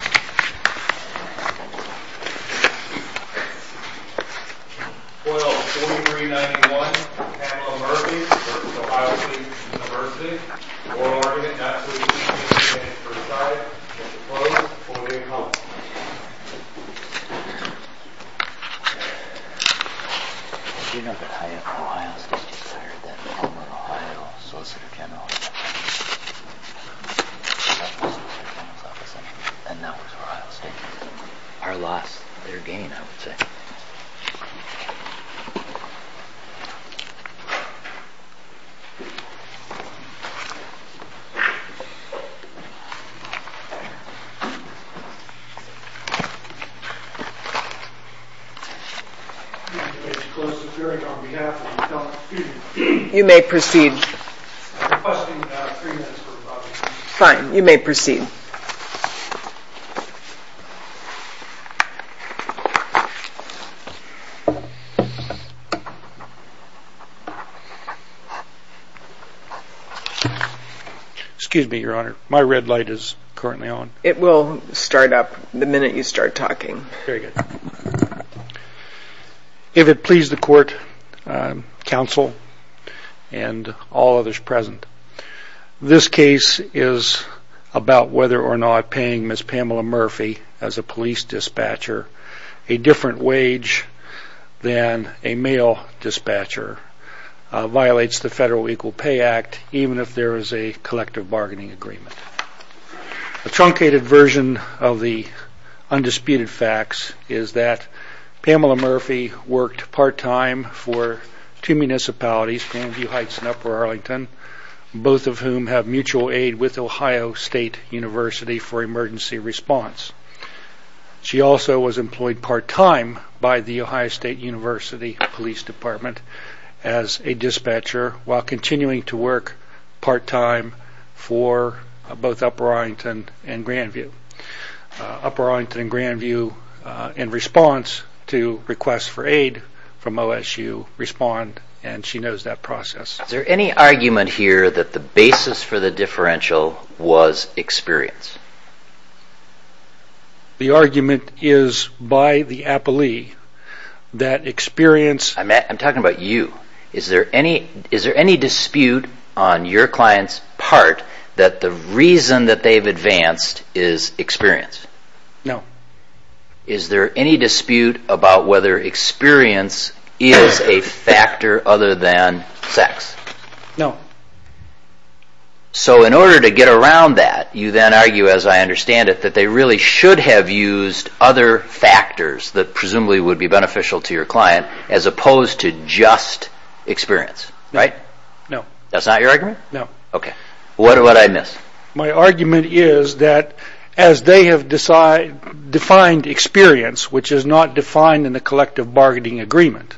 4-0, 43-91, Kamela Murphy v. Ohio St University 4-0, we're going to get back to you in just a minute. First side, we're going to close. We'll be right back. You're not going to hire from Ohio State. You're going to hire from the home of Ohio, Solicitor General's office, and that was Ohio State. Our loss, their gain, I would say. You may proceed. Fine, you may proceed. Excuse me, Your Honor. My red light is currently on. It will start up the minute you start talking. Very good. If it pleases the court, counsel, and all others present, this case is about whether or not paying Ms. Pamela Murphy as a police dispatcher a different wage than a male dispatcher violates the Federal Equal Pay Act, even if there is a collective bargaining agreement. A truncated version of the undisputed facts is that Pamela Murphy worked part-time for two municipalities, Grandview Heights and Upper Arlington, both of whom have mutual aid with Ohio State University for emergency response. She also was employed part-time by the Ohio State University Police Department as a dispatcher while continuing to work part-time for both Upper Arlington and Grandview. Upper Arlington and Grandview, in response to requests for aid from OSU, respond, and she knows that process. Is there any argument here that the basis for the differential was experience? The argument is by the appellee that experience... I'm talking about you. Is there any dispute on your client's part that the reason that they've advanced is experience? No. Is there any dispute about whether experience is a factor other than sex? No. So in order to get around that, you then argue, as I understand it, that they really should have used other factors that presumably would be beneficial to your client as opposed to just experience, right? No. That's not your argument? No. Okay. What did I miss? My argument is that as they have defined experience, which is not defined in the collective bargaining agreement,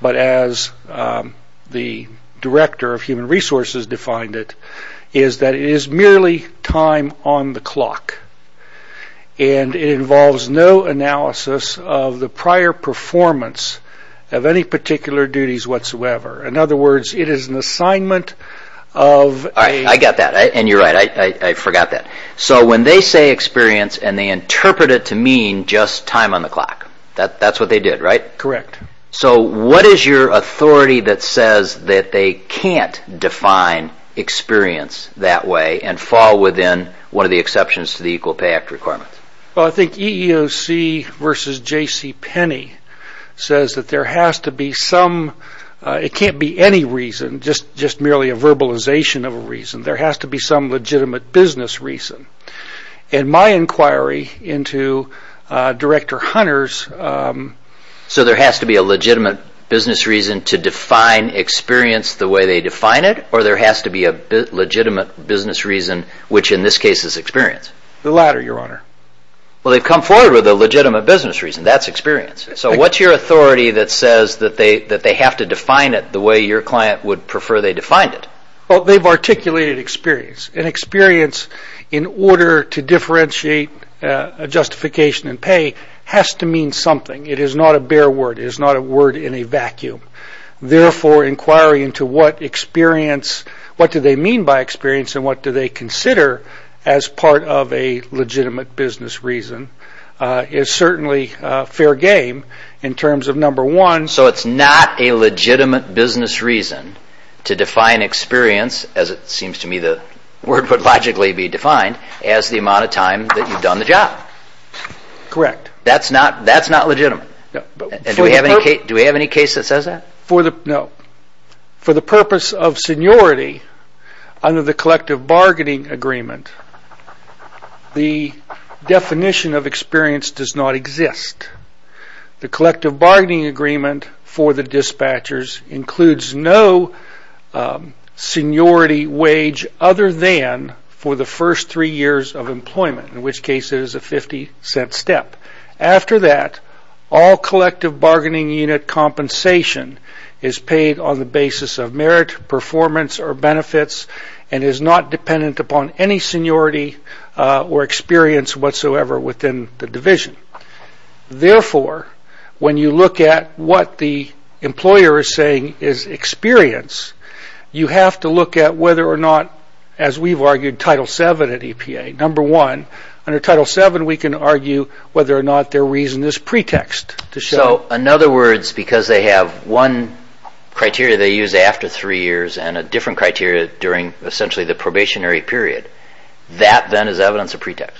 but as the Director of Human Resources defined it, is that it is merely time on the clock, and it involves no analysis of the prior performance of any particular duties whatsoever. In other words, it is an assignment of a... I got that, and you're right. I forgot that. So when they say experience and they interpret it to mean just time on the clock, that's what they did, right? Correct. So what is your authority that says that they can't define experience that way and fall within one of the exceptions to the Equal Pay Act requirements? Well, I think EEOC v. J.C. Penney says that there has to be some... just merely a verbalization of a reason. There has to be some legitimate business reason. In my inquiry into Director Hunter's... So there has to be a legitimate business reason to define experience the way they define it, or there has to be a legitimate business reason, which in this case is experience? The latter, Your Honor. Well, they've come forward with a legitimate business reason. That's experience. So what's your authority that says that they have to define it the way your client would prefer they defined it? Well, they've articulated experience. And experience, in order to differentiate justification and pay, has to mean something. It is not a bare word. It is not a word in a vacuum. Therefore, inquiry into what experience... what do they mean by experience and what do they consider as part of a legitimate business reason is certainly fair game in terms of, number one... So it's not a legitimate business reason to define experience, as it seems to me the word would logically be defined, as the amount of time that you've done the job. Correct. That's not legitimate. Do we have any case that says that? No. For the purpose of seniority, under the collective bargaining agreement, the definition of experience does not exist. The collective bargaining agreement for the dispatchers includes no seniority wage other than for the first three years of employment, in which case it is a 50-cent step. After that, all collective bargaining unit compensation is paid on the basis of merit, performance, or benefits and is not dependent upon any seniority or experience whatsoever within the division. Therefore, when you look at what the employer is saying is experience, you have to look at whether or not, as we've argued Title VII at EPA, number one, under Title VII we can argue whether or not their reason is pretext. So, in other words, because they have one criteria they use after three years and a different criteria during essentially the probationary period, that then is evidence of pretext?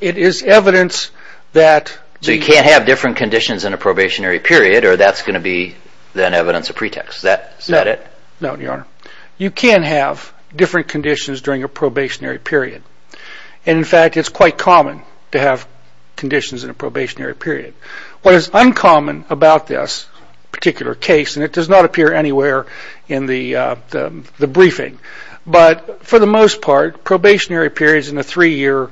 It is evidence that... So you can't have different conditions in a probationary period or that's going to be then evidence of pretext, is that it? No, Your Honor. You can have different conditions during a probationary period. In fact, it's quite common to have conditions in a probationary period. What is uncommon about this particular case, and it does not appear anywhere in the briefing, but for the most part, probationary periods in a three-year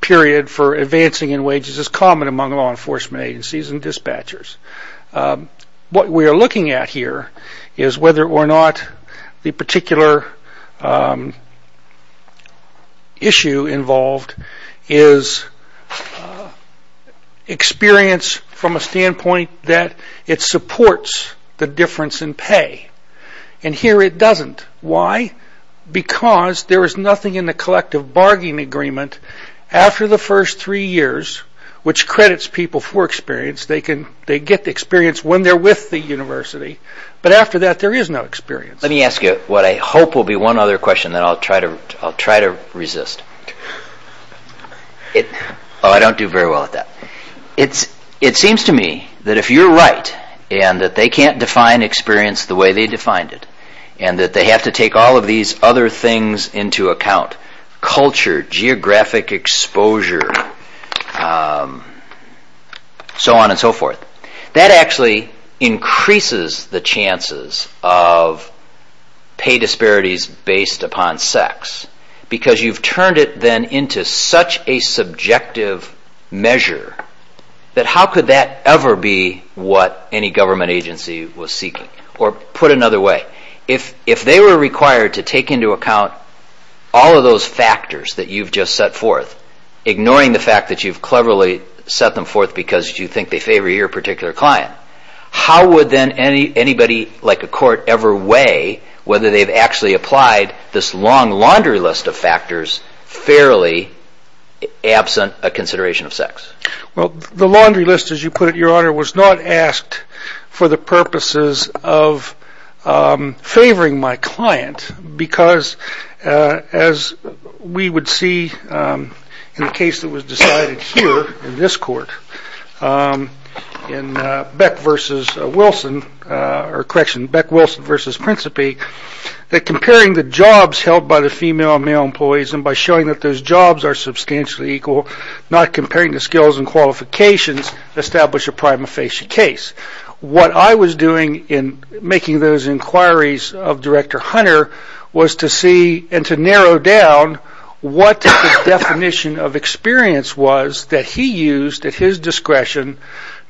period for advancing in wages is common among law enforcement agencies and dispatchers. What we are looking at here is whether or not the particular issue involved is experience from a standpoint that it supports the difference in pay, and here it doesn't. Why? Because there is nothing in the collective bargaining agreement after the first three years which credits people for experience. They get the experience when they're with the university, but after that there is no experience. Let me ask you what I hope will be one other question that I'll try to resist. Oh, I don't do very well at that. It seems to me that if you're right, and that they can't define experience the way they defined it, and that they have to take all of these other things into account, culture, geographic exposure, so on and so forth, that actually increases the chances of pay disparities based upon sex because you've turned it then into such a subjective measure that how could that ever be what any government agency was seeking? Or put another way, if they were required to take into account all of those factors that you've just set forth, ignoring the fact that you've cleverly set them forth because you think they favor your particular client, how would then anybody like a court ever weigh whether they've actually applied this long laundry list of factors fairly absent a consideration of sex? Well, the laundry list, as you put it, Your Honor, was not asked for the purposes of favoring my client because as we would see in the case that was decided here in this court, in Beck versus Wilson, or correction, Beck-Wilson versus Principi, that comparing the jobs held by the female and male employees and by showing that those jobs are substantially equal, not comparing the skills and qualifications, establish a prima facie case. What I was doing in making those inquiries of Director Hunter was to see and to narrow down what the definition of experience was that he used at his discretion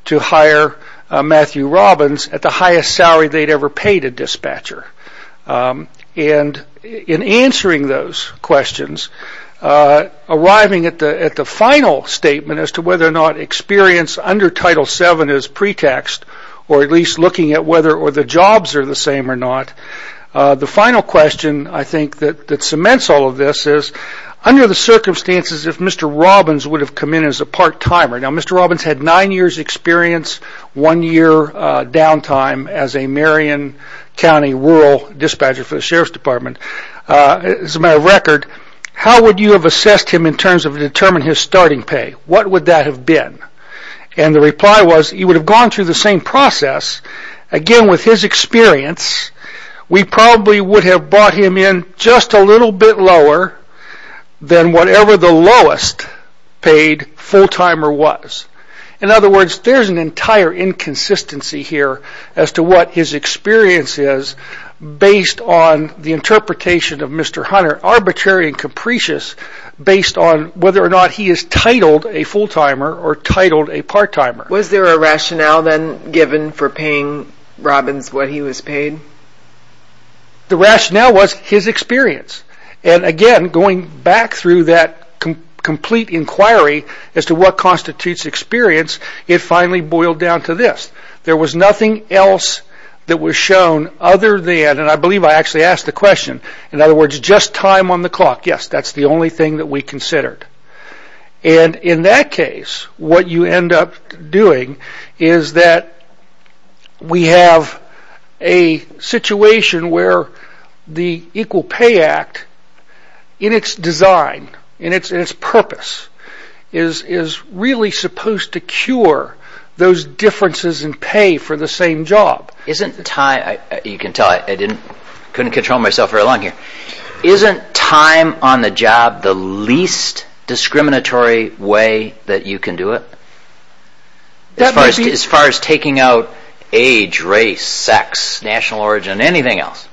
to hire Matthew Robbins at the highest salary they'd ever paid a dispatcher. And in answering those questions, arriving at the final statement as to whether or not experience under Title VII is pretext or at least looking at whether or the jobs are the same or not, the final question I think that cements all of this is under the circumstances if Mr. Robbins would have come in as a part-timer, now Mr. Robbins had nine years experience, one year downtime as a Marion County rural dispatcher for the Sheriff's Department. As a matter of record, how would you have assessed him in terms of determining his starting pay? What would that have been? And the reply was he would have gone through the same process. Again, with his experience, we probably would have brought him in just a little bit lower than whatever the lowest paid full-timer was. In other words, there's an entire inconsistency here as to what his experience is based on the interpretation of Mr. Hunter, arbitrary and capricious, based on whether or not he is titled a full-timer or titled a part-timer. Was there a rationale then given for paying Robbins what he was paid? The rationale was his experience. And again, going back through that complete inquiry as to what constitutes experience, it finally boiled down to this. There was nothing else that was shown other than, and I believe I actually asked the question, in other words, just time on the clock. Yes, that's the only thing that we considered. And in that case, what you end up doing is that we have a situation where the Equal Pay Act, in its design, in its purpose, is really supposed to cure those differences in pay for the same job. You can tell I couldn't control myself very long here. Isn't time on the job the least discriminatory way that you can do it? As far as taking out age, race, sex, national origin, anything else?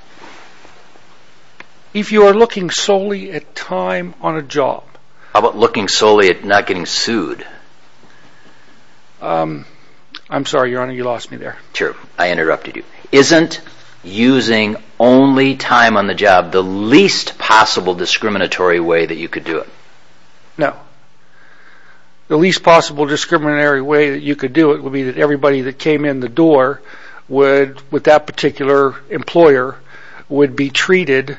If you are looking solely at time on a job. How about looking solely at not getting sued? I'm sorry, Your Honor, you lost me there. Sure, I interrupted you. Isn't using only time on the job the least possible discriminatory way that you could do it? No. The least possible discriminatory way that you could do it would be that everybody that came in the door with that particular employer would be treated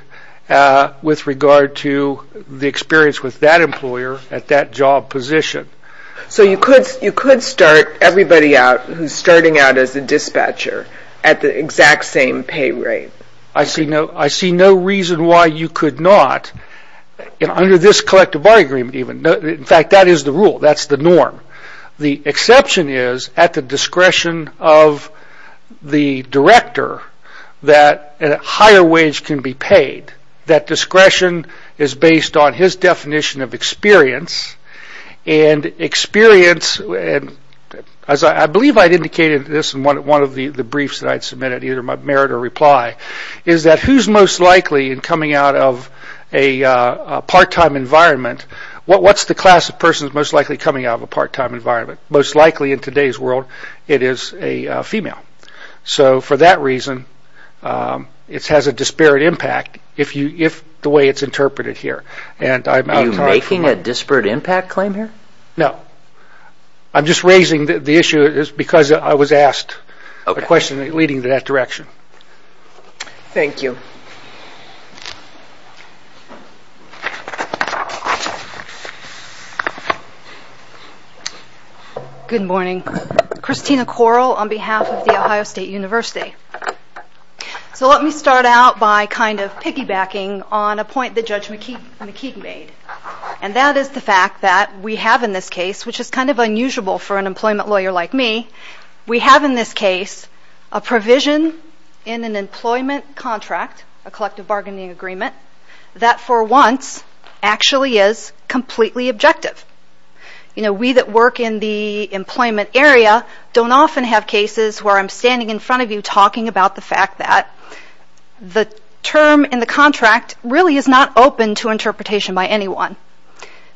with regard to the experience with that employer at that job position. So you could start everybody out who's starting out as a dispatcher at the exact same pay rate. I see no reason why you could not. Under this collective bargaining agreement even. In fact, that is the rule. That's the norm. The exception is at the discretion of the director that a higher wage can be paid. That discretion is based on his definition of experience. Experience, as I believe I indicated this in one of the briefs that I submitted, either my merit or reply, is that who's most likely in coming out of a part-time environment, what's the class of persons most likely coming out of a part-time environment? Most likely in today's world, it is a female. So for that reason, it has a disparate impact if the way it's interpreted here. Are you making a disparate impact claim here? No. I'm just raising the issue because I was asked a question leading to that direction. Thank you. Good morning. Christina Correll on behalf of The Ohio State University. So let me start out by kind of piggybacking on a point that Judge McKeegan made, and that is the fact that we have in this case, which is kind of unusual for an employment lawyer like me, we have in this case a provision in an employment contract, a collective bargaining agreement, that for once actually is completely objective. We that work in the employment area don't often have cases where I'm standing in front of you talking about the fact that the term in the contract really is not open to interpretation by anyone.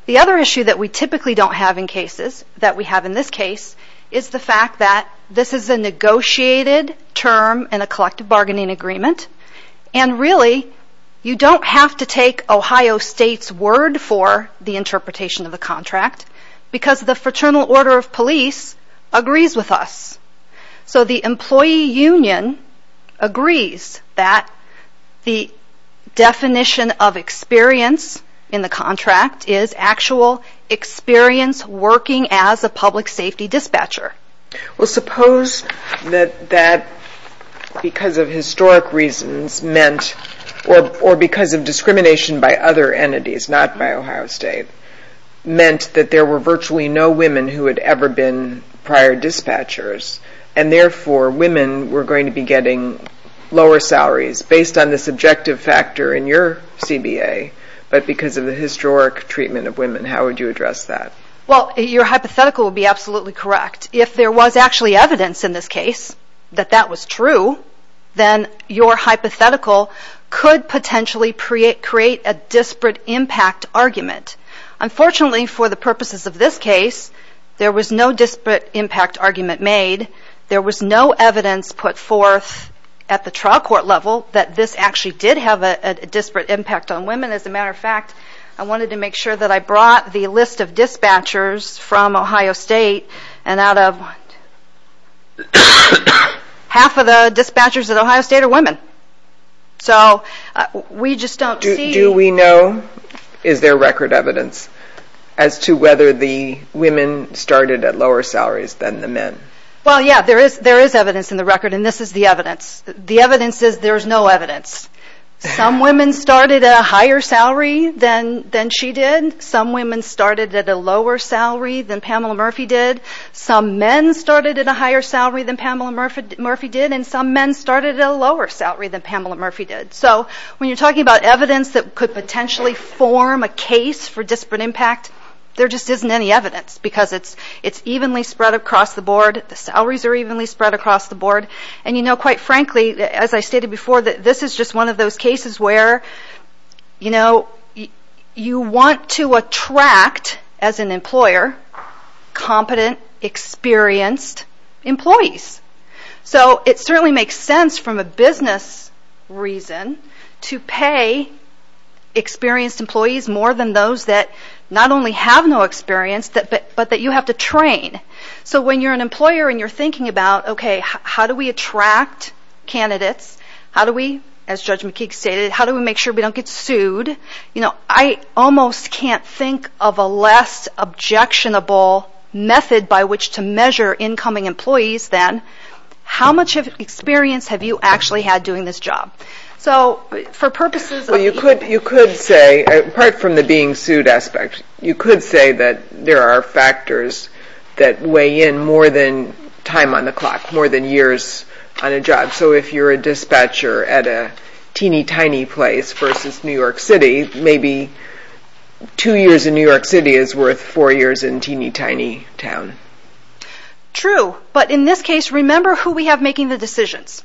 The other issue that we typically don't have in cases that we have in this case is the fact that this is a negotiated term in a collective bargaining agreement, and really you don't have to take Ohio State's word for the interpretation of the contract because the Fraternal Order of Police agrees with us. So the employee union agrees that the definition of experience in the contract is actual experience working as a public safety dispatcher. Well, suppose that because of historic reasons meant, or because of discrimination by other entities, not by Ohio State, meant that there were virtually no women who had ever been prior dispatchers, and therefore women were going to be getting lower salaries based on this objective factor in your CBA, but because of the historic treatment of women, how would you address that? Well, your hypothetical would be absolutely correct. If there was actually evidence in this case that that was true, then your hypothetical could potentially create a disparate impact argument. Unfortunately, for the purposes of this case, there was no disparate impact argument made. There was no evidence put forth at the trial court level that this actually did have a disparate impact on women. As a matter of fact, I wanted to make sure that I brought the list of dispatchers from Ohio State, and out of half of the dispatchers at Ohio State are women. So we just don't see... Do we know, is there record evidence, as to whether the women started at lower salaries than the men? Well, yeah, there is evidence in the record, and this is the evidence. The evidence is there's no evidence. Some women started at a higher salary than she did. Some women started at a lower salary than Pamela Murphy did. Some men started at a higher salary than Pamela Murphy did, and some men started at a lower salary than Pamela Murphy did. So when you're talking about evidence that could potentially form a case for disparate impact, there just isn't any evidence, because it's evenly spread across the board. The salaries are evenly spread across the board. And you know, quite frankly, as I stated before, this is just one of those cases where you want to attract, as an employer, competent, experienced employees. So it certainly makes sense from a business reason to pay experienced employees more than those that not only have no experience, but that you have to train. So when you're an employer and you're thinking about, okay, how do we attract candidates? How do we, as Judge McKeague stated, how do we make sure we don't get sued? You know, I almost can't think of a less objectionable method by which to measure incoming employees than, how much experience have you actually had doing this job? So for purposes of... Well, you could say, apart from the being sued aspect, you could say that there are factors that weigh in more than time on the clock, more than years on a job. So if you're a dispatcher at a teeny tiny place versus New York City, maybe two years in New York City is worth four years in a teeny tiny town. True, but in this case, remember who we have making the decisions.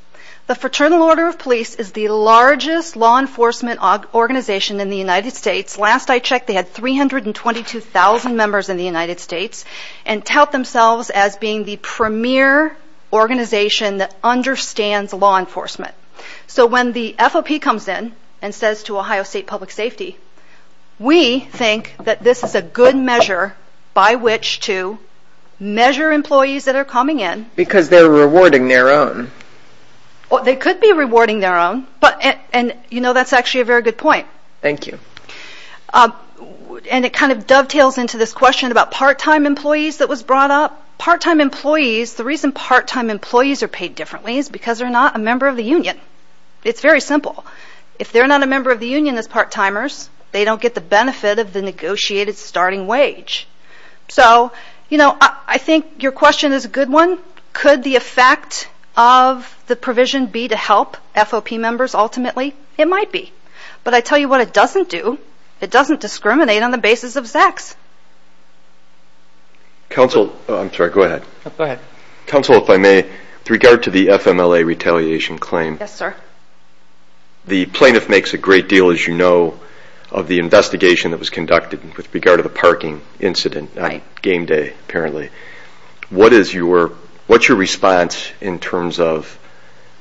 The Fraternal Order of Police is the largest law enforcement organization in the United States. Last I checked, they had 322,000 members in the United States and tout themselves as being the premier organization that understands law enforcement. So when the FOP comes in and says to Ohio State Public Safety, we think that this is a good measure by which to measure employees that are coming in. Because they're rewarding their own. They could be rewarding their own, and you know, that's actually a very good point. Thank you. And it kind of dovetails into this question about part-time employees that was brought up. Part-time employees, the reason part-time employees are paid differently is because they're not a member of the union. It's very simple. If they're not a member of the union as part-timers, they don't get the benefit of the negotiated starting wage. So, you know, I think your question is a good one. Could the effect of the provision be to help FOP members ultimately? It might be. But I tell you what it doesn't do, it doesn't discriminate on the basis of sex. Counsel, I'm sorry, go ahead. Go ahead. Counsel, if I may, with regard to the FMLA retaliation claim. Yes, sir. The plaintiff makes a great deal, as you know, of the investigation that was conducted with regard to the parking incident on game day, apparently. What is your response in terms of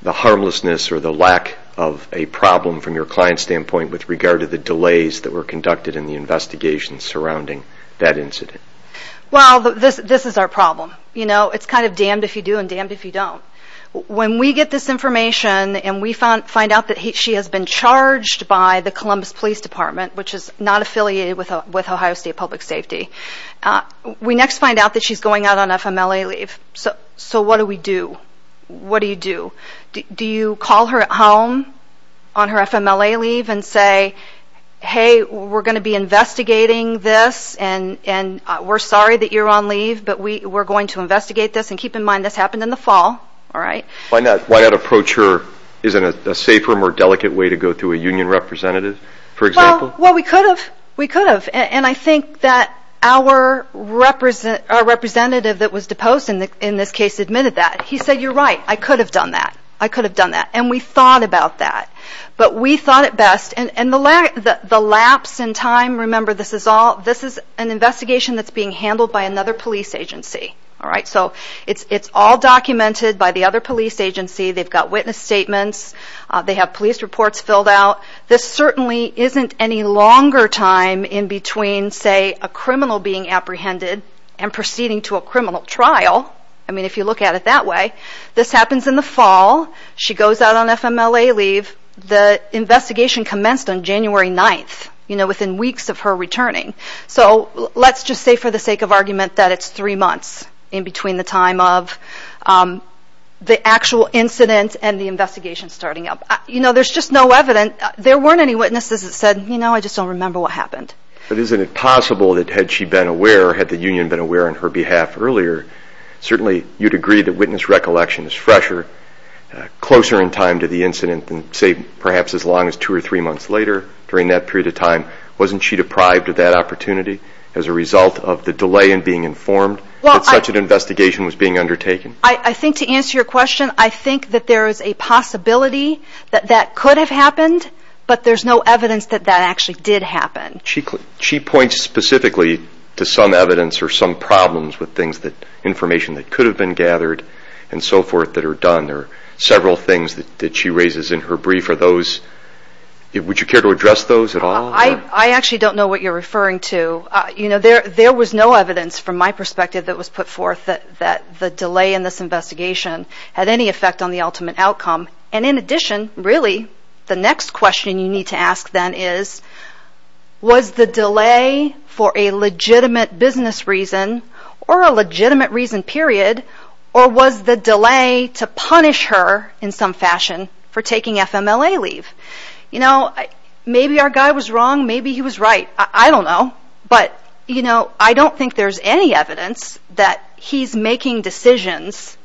the harmlessness or the lack of a problem from your client's standpoint with regard to the delays that were conducted in the investigation surrounding that incident? Well, this is our problem. You know, it's kind of damned if you do and damned if you don't. When we get this information and we find out that she has been charged by the Columbus Police Department, which is not affiliated with Ohio State Public Safety, we next find out that she's going out on FMLA leave. So what do we do? What do you do? Do you call her at home on her FMLA leave and say, hey, we're going to be investigating this and we're sorry that you're on leave, but we're going to investigate this and keep in mind this happened in the fall. Why not approach her as a safer, more delicate way to go to a union representative, for example? Well, we could have. We could have. I think that our representative that was deposed in this case admitted that. He said, you're right. I could have done that. I could have done that. And we thought about that. But we thought it best. And the lapse in time, remember, this is an investigation that's being handled by another police agency. So it's all documented by the other police agency. They've got witness statements. They have police reports filled out. This certainly isn't any longer time in between, say, a criminal being apprehended and proceeding to a criminal trial. I mean, if you look at it that way. This happens in the fall. She goes out on FMLA leave. The investigation commenced on January 9th, you know, within weeks of her returning. So let's just say for the sake of argument that it's three months in between the time of the actual incident and the investigation starting up. You know, there's just no evidence. There weren't any witnesses that said, you know, I just don't remember what happened. But isn't it possible that had she been aware, had the union been aware on her behalf earlier, certainly you'd agree that witness recollection is fresher, closer in time to the incident than, say, perhaps as long as two or three months later during that period of time. Wasn't she deprived of that opportunity as a result of the delay in being informed that such an investigation was being undertaken? I think to answer your question, I think that there is a possibility that that could have happened, but there's no evidence that that actually did happen. She points specifically to some evidence or some problems with things, information that could have been gathered and so forth that are done. There are several things that she raises in her brief. Are those, would you care to address those at all? I actually don't know what you're referring to. You know, there was no evidence from my perspective that was put forth that the delay in this investigation had any effect on the ultimate outcome. And in addition, really, the next question you need to ask then is, was the delay for a legitimate business reason or a legitimate reason period, or was the delay to punish her in some fashion for taking FMLA leave? You know, maybe our guy was wrong, maybe he was right. I don't know. But, you know, I don't think there's any evidence that he's making decisions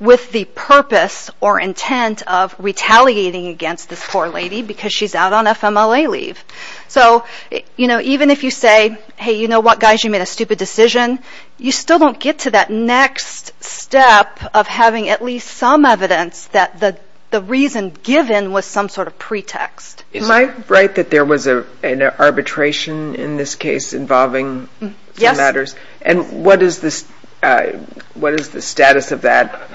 with the purpose or intent of retaliating against this poor lady because she's out on FMLA leave. So, you know, even if you say, hey, you know what, guys, you made a stupid decision, you still don't get to that next step of having at least some evidence that the reason given was some sort of pretext. Am I right that there was an arbitration in this case involving some matters? Yes. And what is the status of that?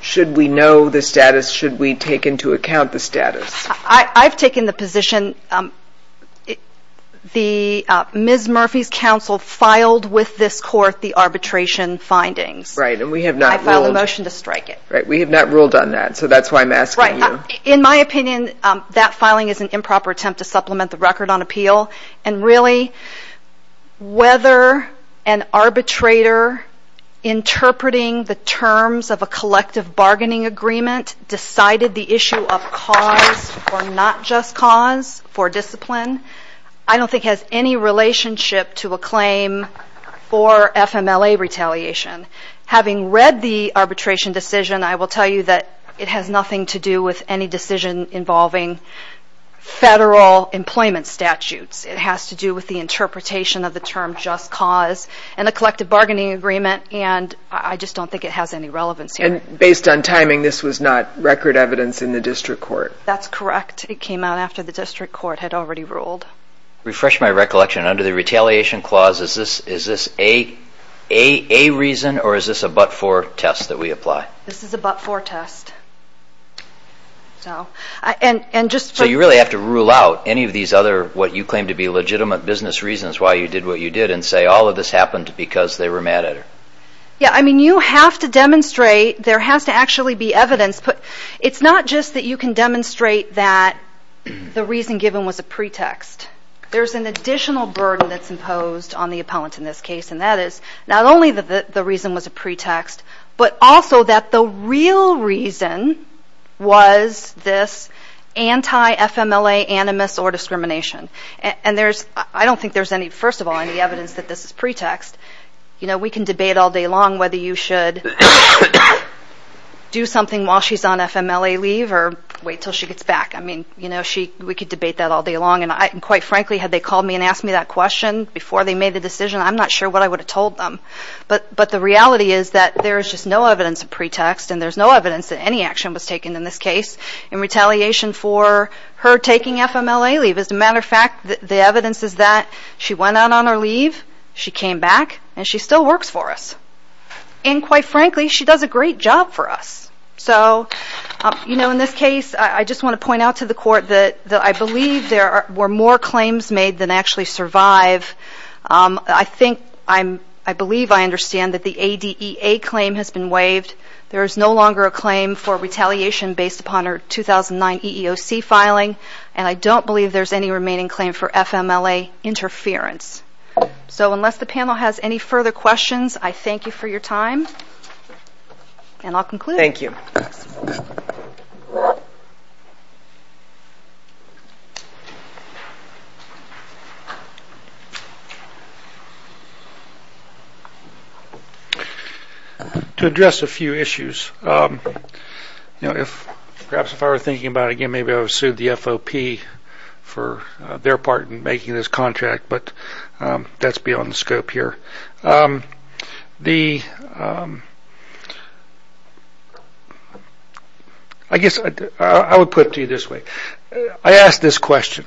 Should we know the status? Should we take into account the status? I've taken the position the Ms. Murphy's counsel filed with this court the arbitration findings. Right, and we have not ruled. I filed a motion to strike it. Right, we have not ruled on that, so that's why I'm asking you. In my opinion, that filing is an improper attempt to supplement the record on appeal. And really, whether an arbitrator interpreting the terms of a collective bargaining agreement decided the issue of cause or not just cause for discipline, I don't think has any relationship to a claim for FMLA retaliation. Having read the arbitration decision, I will tell you that it has nothing to do with any decision involving federal employment statutes. It has to do with the interpretation of the term just cause and a collective bargaining agreement, and I just don't think it has any relevance here. And based on timing, this was not record evidence in the district court? That's correct. It came out after the district court had already ruled. To refresh my recollection, under the retaliation clause, is this a reason or is this a but-for test that we apply? This is a but-for test. So you really have to rule out any of these other what you claim to be legitimate business reasons why you did what you did and say all of this happened because they were mad at her? Yeah, I mean, you have to demonstrate there has to actually be evidence. It's not just that you can demonstrate that the reason given was a pretext. There's an additional burden that's imposed on the appellant in this case, and that is not only that the reason was a pretext, but also that the real reason was this anti-FMLA animus or discrimination. And I don't think there's any, first of all, any evidence that this is pretext. You know, we can debate all day long whether you should do something while she's on FMLA leave or wait until she gets back. I mean, you know, we could debate that all day long, and quite frankly, had they called me and asked me that question before they made the decision, I'm not sure what I would have told them. But the reality is that there is just no evidence of pretext, and there's no evidence that any action was taken in this case in retaliation for her taking FMLA leave. As a matter of fact, the evidence is that she went out on her leave, she came back, and she still works for us. And quite frankly, she does a great job for us. So, you know, in this case, I just want to point out to the Court that I believe there were more claims made than actually survive. I think I'm, I believe I understand that the ADEA claim has been waived. There is no longer a claim for retaliation based upon her 2009 EEOC filing, and I don't believe there's any remaining claim for FMLA interference. So unless the panel has any further questions, I thank you for your time. And I'll conclude. Thank you. To address a few issues, perhaps if I were thinking about it again, maybe I would have sued the FOP for their part in making this contract, but that's beyond the scope here. I guess I would put it to you this way. I asked this question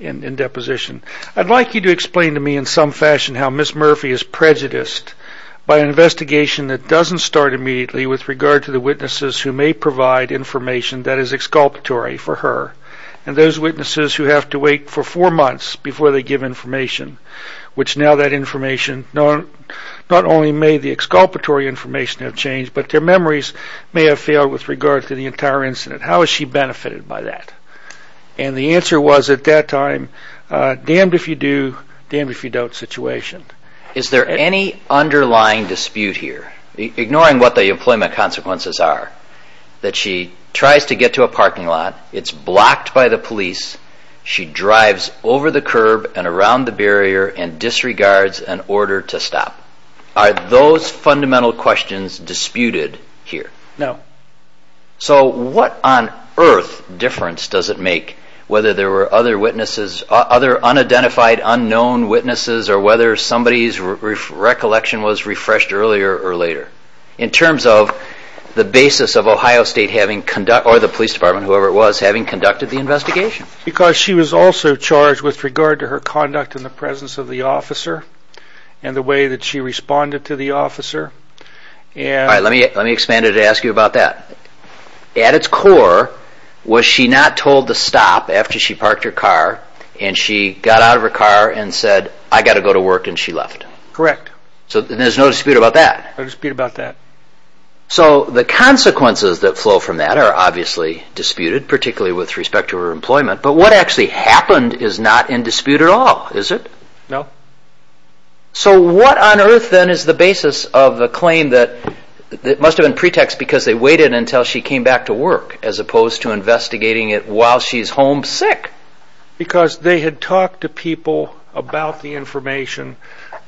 in deposition. I'd like you to explain to me in some fashion how Ms. Murphy is prejudiced by an investigation that doesn't start immediately with regard to the witnesses who may provide information that is exculpatory for her, and those witnesses who have to wait for four months before they give information, which now that information not only may the exculpatory information have changed, but their memories may have failed with regard to the entire incident. How is she benefited by that? And the answer was at that time, damned if you do, damned if you don't situation. Is there any underlying dispute here, ignoring what the employment consequences are, that she tries to get to a parking lot, it's blocked by the police, she drives over the curb and around the barrier and disregards an order to stop? Are those fundamental questions disputed here? No. So what on earth difference does it make whether there were other witnesses, other unidentified, unknown witnesses, or whether somebody's recollection was refreshed earlier or later, in terms of the basis of Ohio State or the police department, whoever it was, having conducted the investigation? Because she was also charged with regard to her conduct in the presence of the officer and the way that she responded to the officer. All right, let me expand it and ask you about that. At its core, was she not told to stop after she parked her car and she got out of her car and said, I've got to go to work, and she left? Correct. So there's no dispute about that? No dispute about that. So the consequences that flow from that are obviously disputed, particularly with respect to her employment, but what actually happened is not in dispute at all, is it? No. So what on earth then is the basis of the claim that it must have been pretext because they waited until she came back to work, as opposed to investigating it while she's home sick? Because they had talked to people about the information.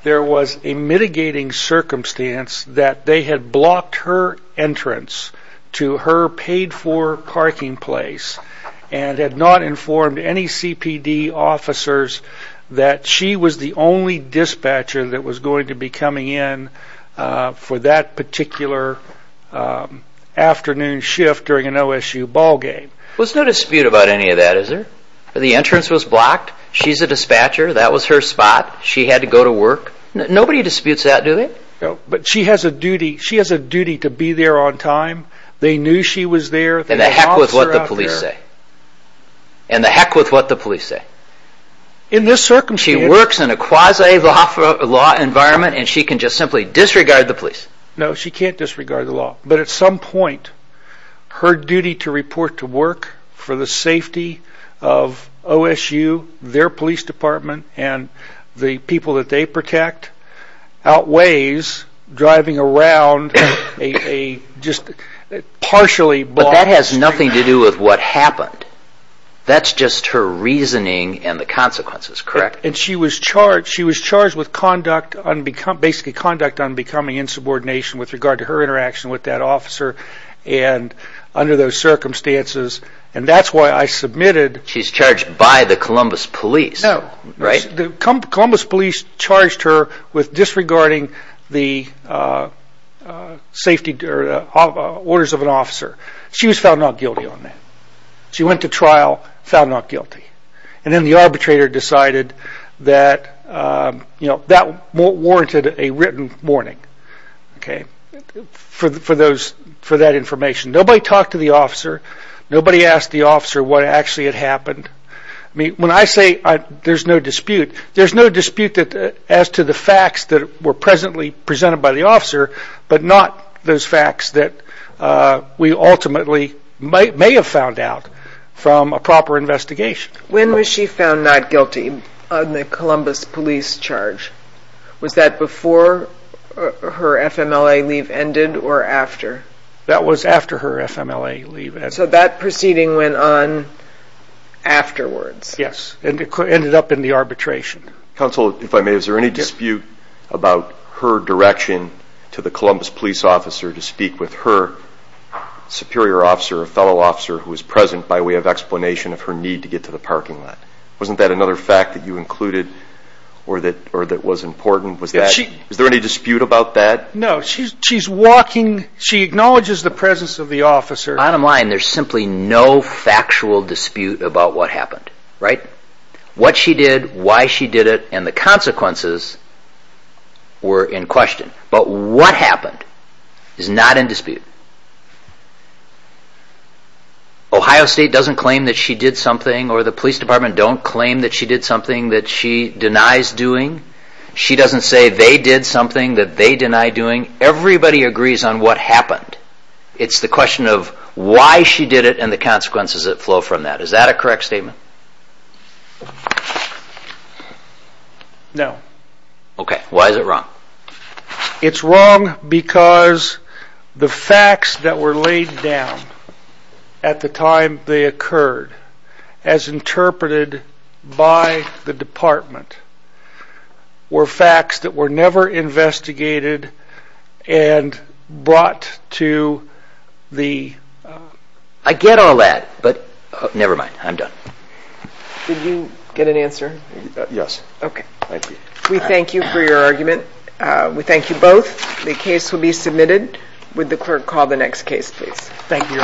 There was a mitigating circumstance that they had blocked her entrance to her paid-for parking place and had not informed any CPD officers that she was the only dispatcher that was going to be coming in for that particular afternoon shift during an OSU ball game. There's no dispute about any of that, is there? The entrance was blocked. She's a dispatcher. That was her spot. She had to go to work. Nobody disputes that, do they? No, but she has a duty to be there on time. They knew she was there. And to heck with what the police say. And to heck with what the police say. She works in a quasi-law environment and she can just simply disregard the police. No, she can't disregard the law. But at some point, her duty to report to work for the safety of OSU, their police department, and the people that they protect outweighs driving around a just partially blocked street. But that has nothing to do with what happened. That's just her reasoning and the consequences, correct? And she was charged with basically conduct unbecoming insubordination with regard to her interaction with that officer and under those circumstances. And that's why I submitted. She's charged by the Columbus police, right? The Columbus police charged her with disregarding the orders of an officer. She was found not guilty on that. She went to trial, found not guilty. And then the arbitrator decided that that warranted a written warning for that information. Nobody talked to the officer. Nobody asked the officer what actually had happened. When I say there's no dispute, there's no dispute as to the facts that were presently presented by the officer but not those facts that we ultimately may have found out from a proper investigation. When was she found not guilty on the Columbus police charge? Was that before her FMLA leave ended or after? That was after her FMLA leave ended. So that proceeding went on afterwards? Yes, and it ended up in the arbitration. Counsel, if I may, is there any dispute about her direction to the Columbus police officer to speak with her superior officer or fellow officer who was present by way of explanation of her need to get to the parking lot? Wasn't that another fact that you included or that was important? Is there any dispute about that? No, she's walking. She acknowledges the presence of the officer. Bottom line, there's simply no factual dispute about what happened, right? What she did, why she did it, and the consequences were in question. But what happened is not in dispute. Ohio State doesn't claim that she did something or the police department don't claim that she did something that she denies doing. She doesn't say they did something that they deny doing. Everybody agrees on what happened. It's the question of why she did it and the consequences that flow from that. Is that a correct statement? No. Okay, why is it wrong? It's wrong because the facts that were laid down at the time they occurred, as interpreted by the department, were facts that were never investigated and brought to the... I get all that, but never mind. I'm done. Did you get an answer? Yes. Okay. Thank you. We thank you for your argument. We thank you both. The case will be submitted. Would the clerk call the next case, please? Thank you.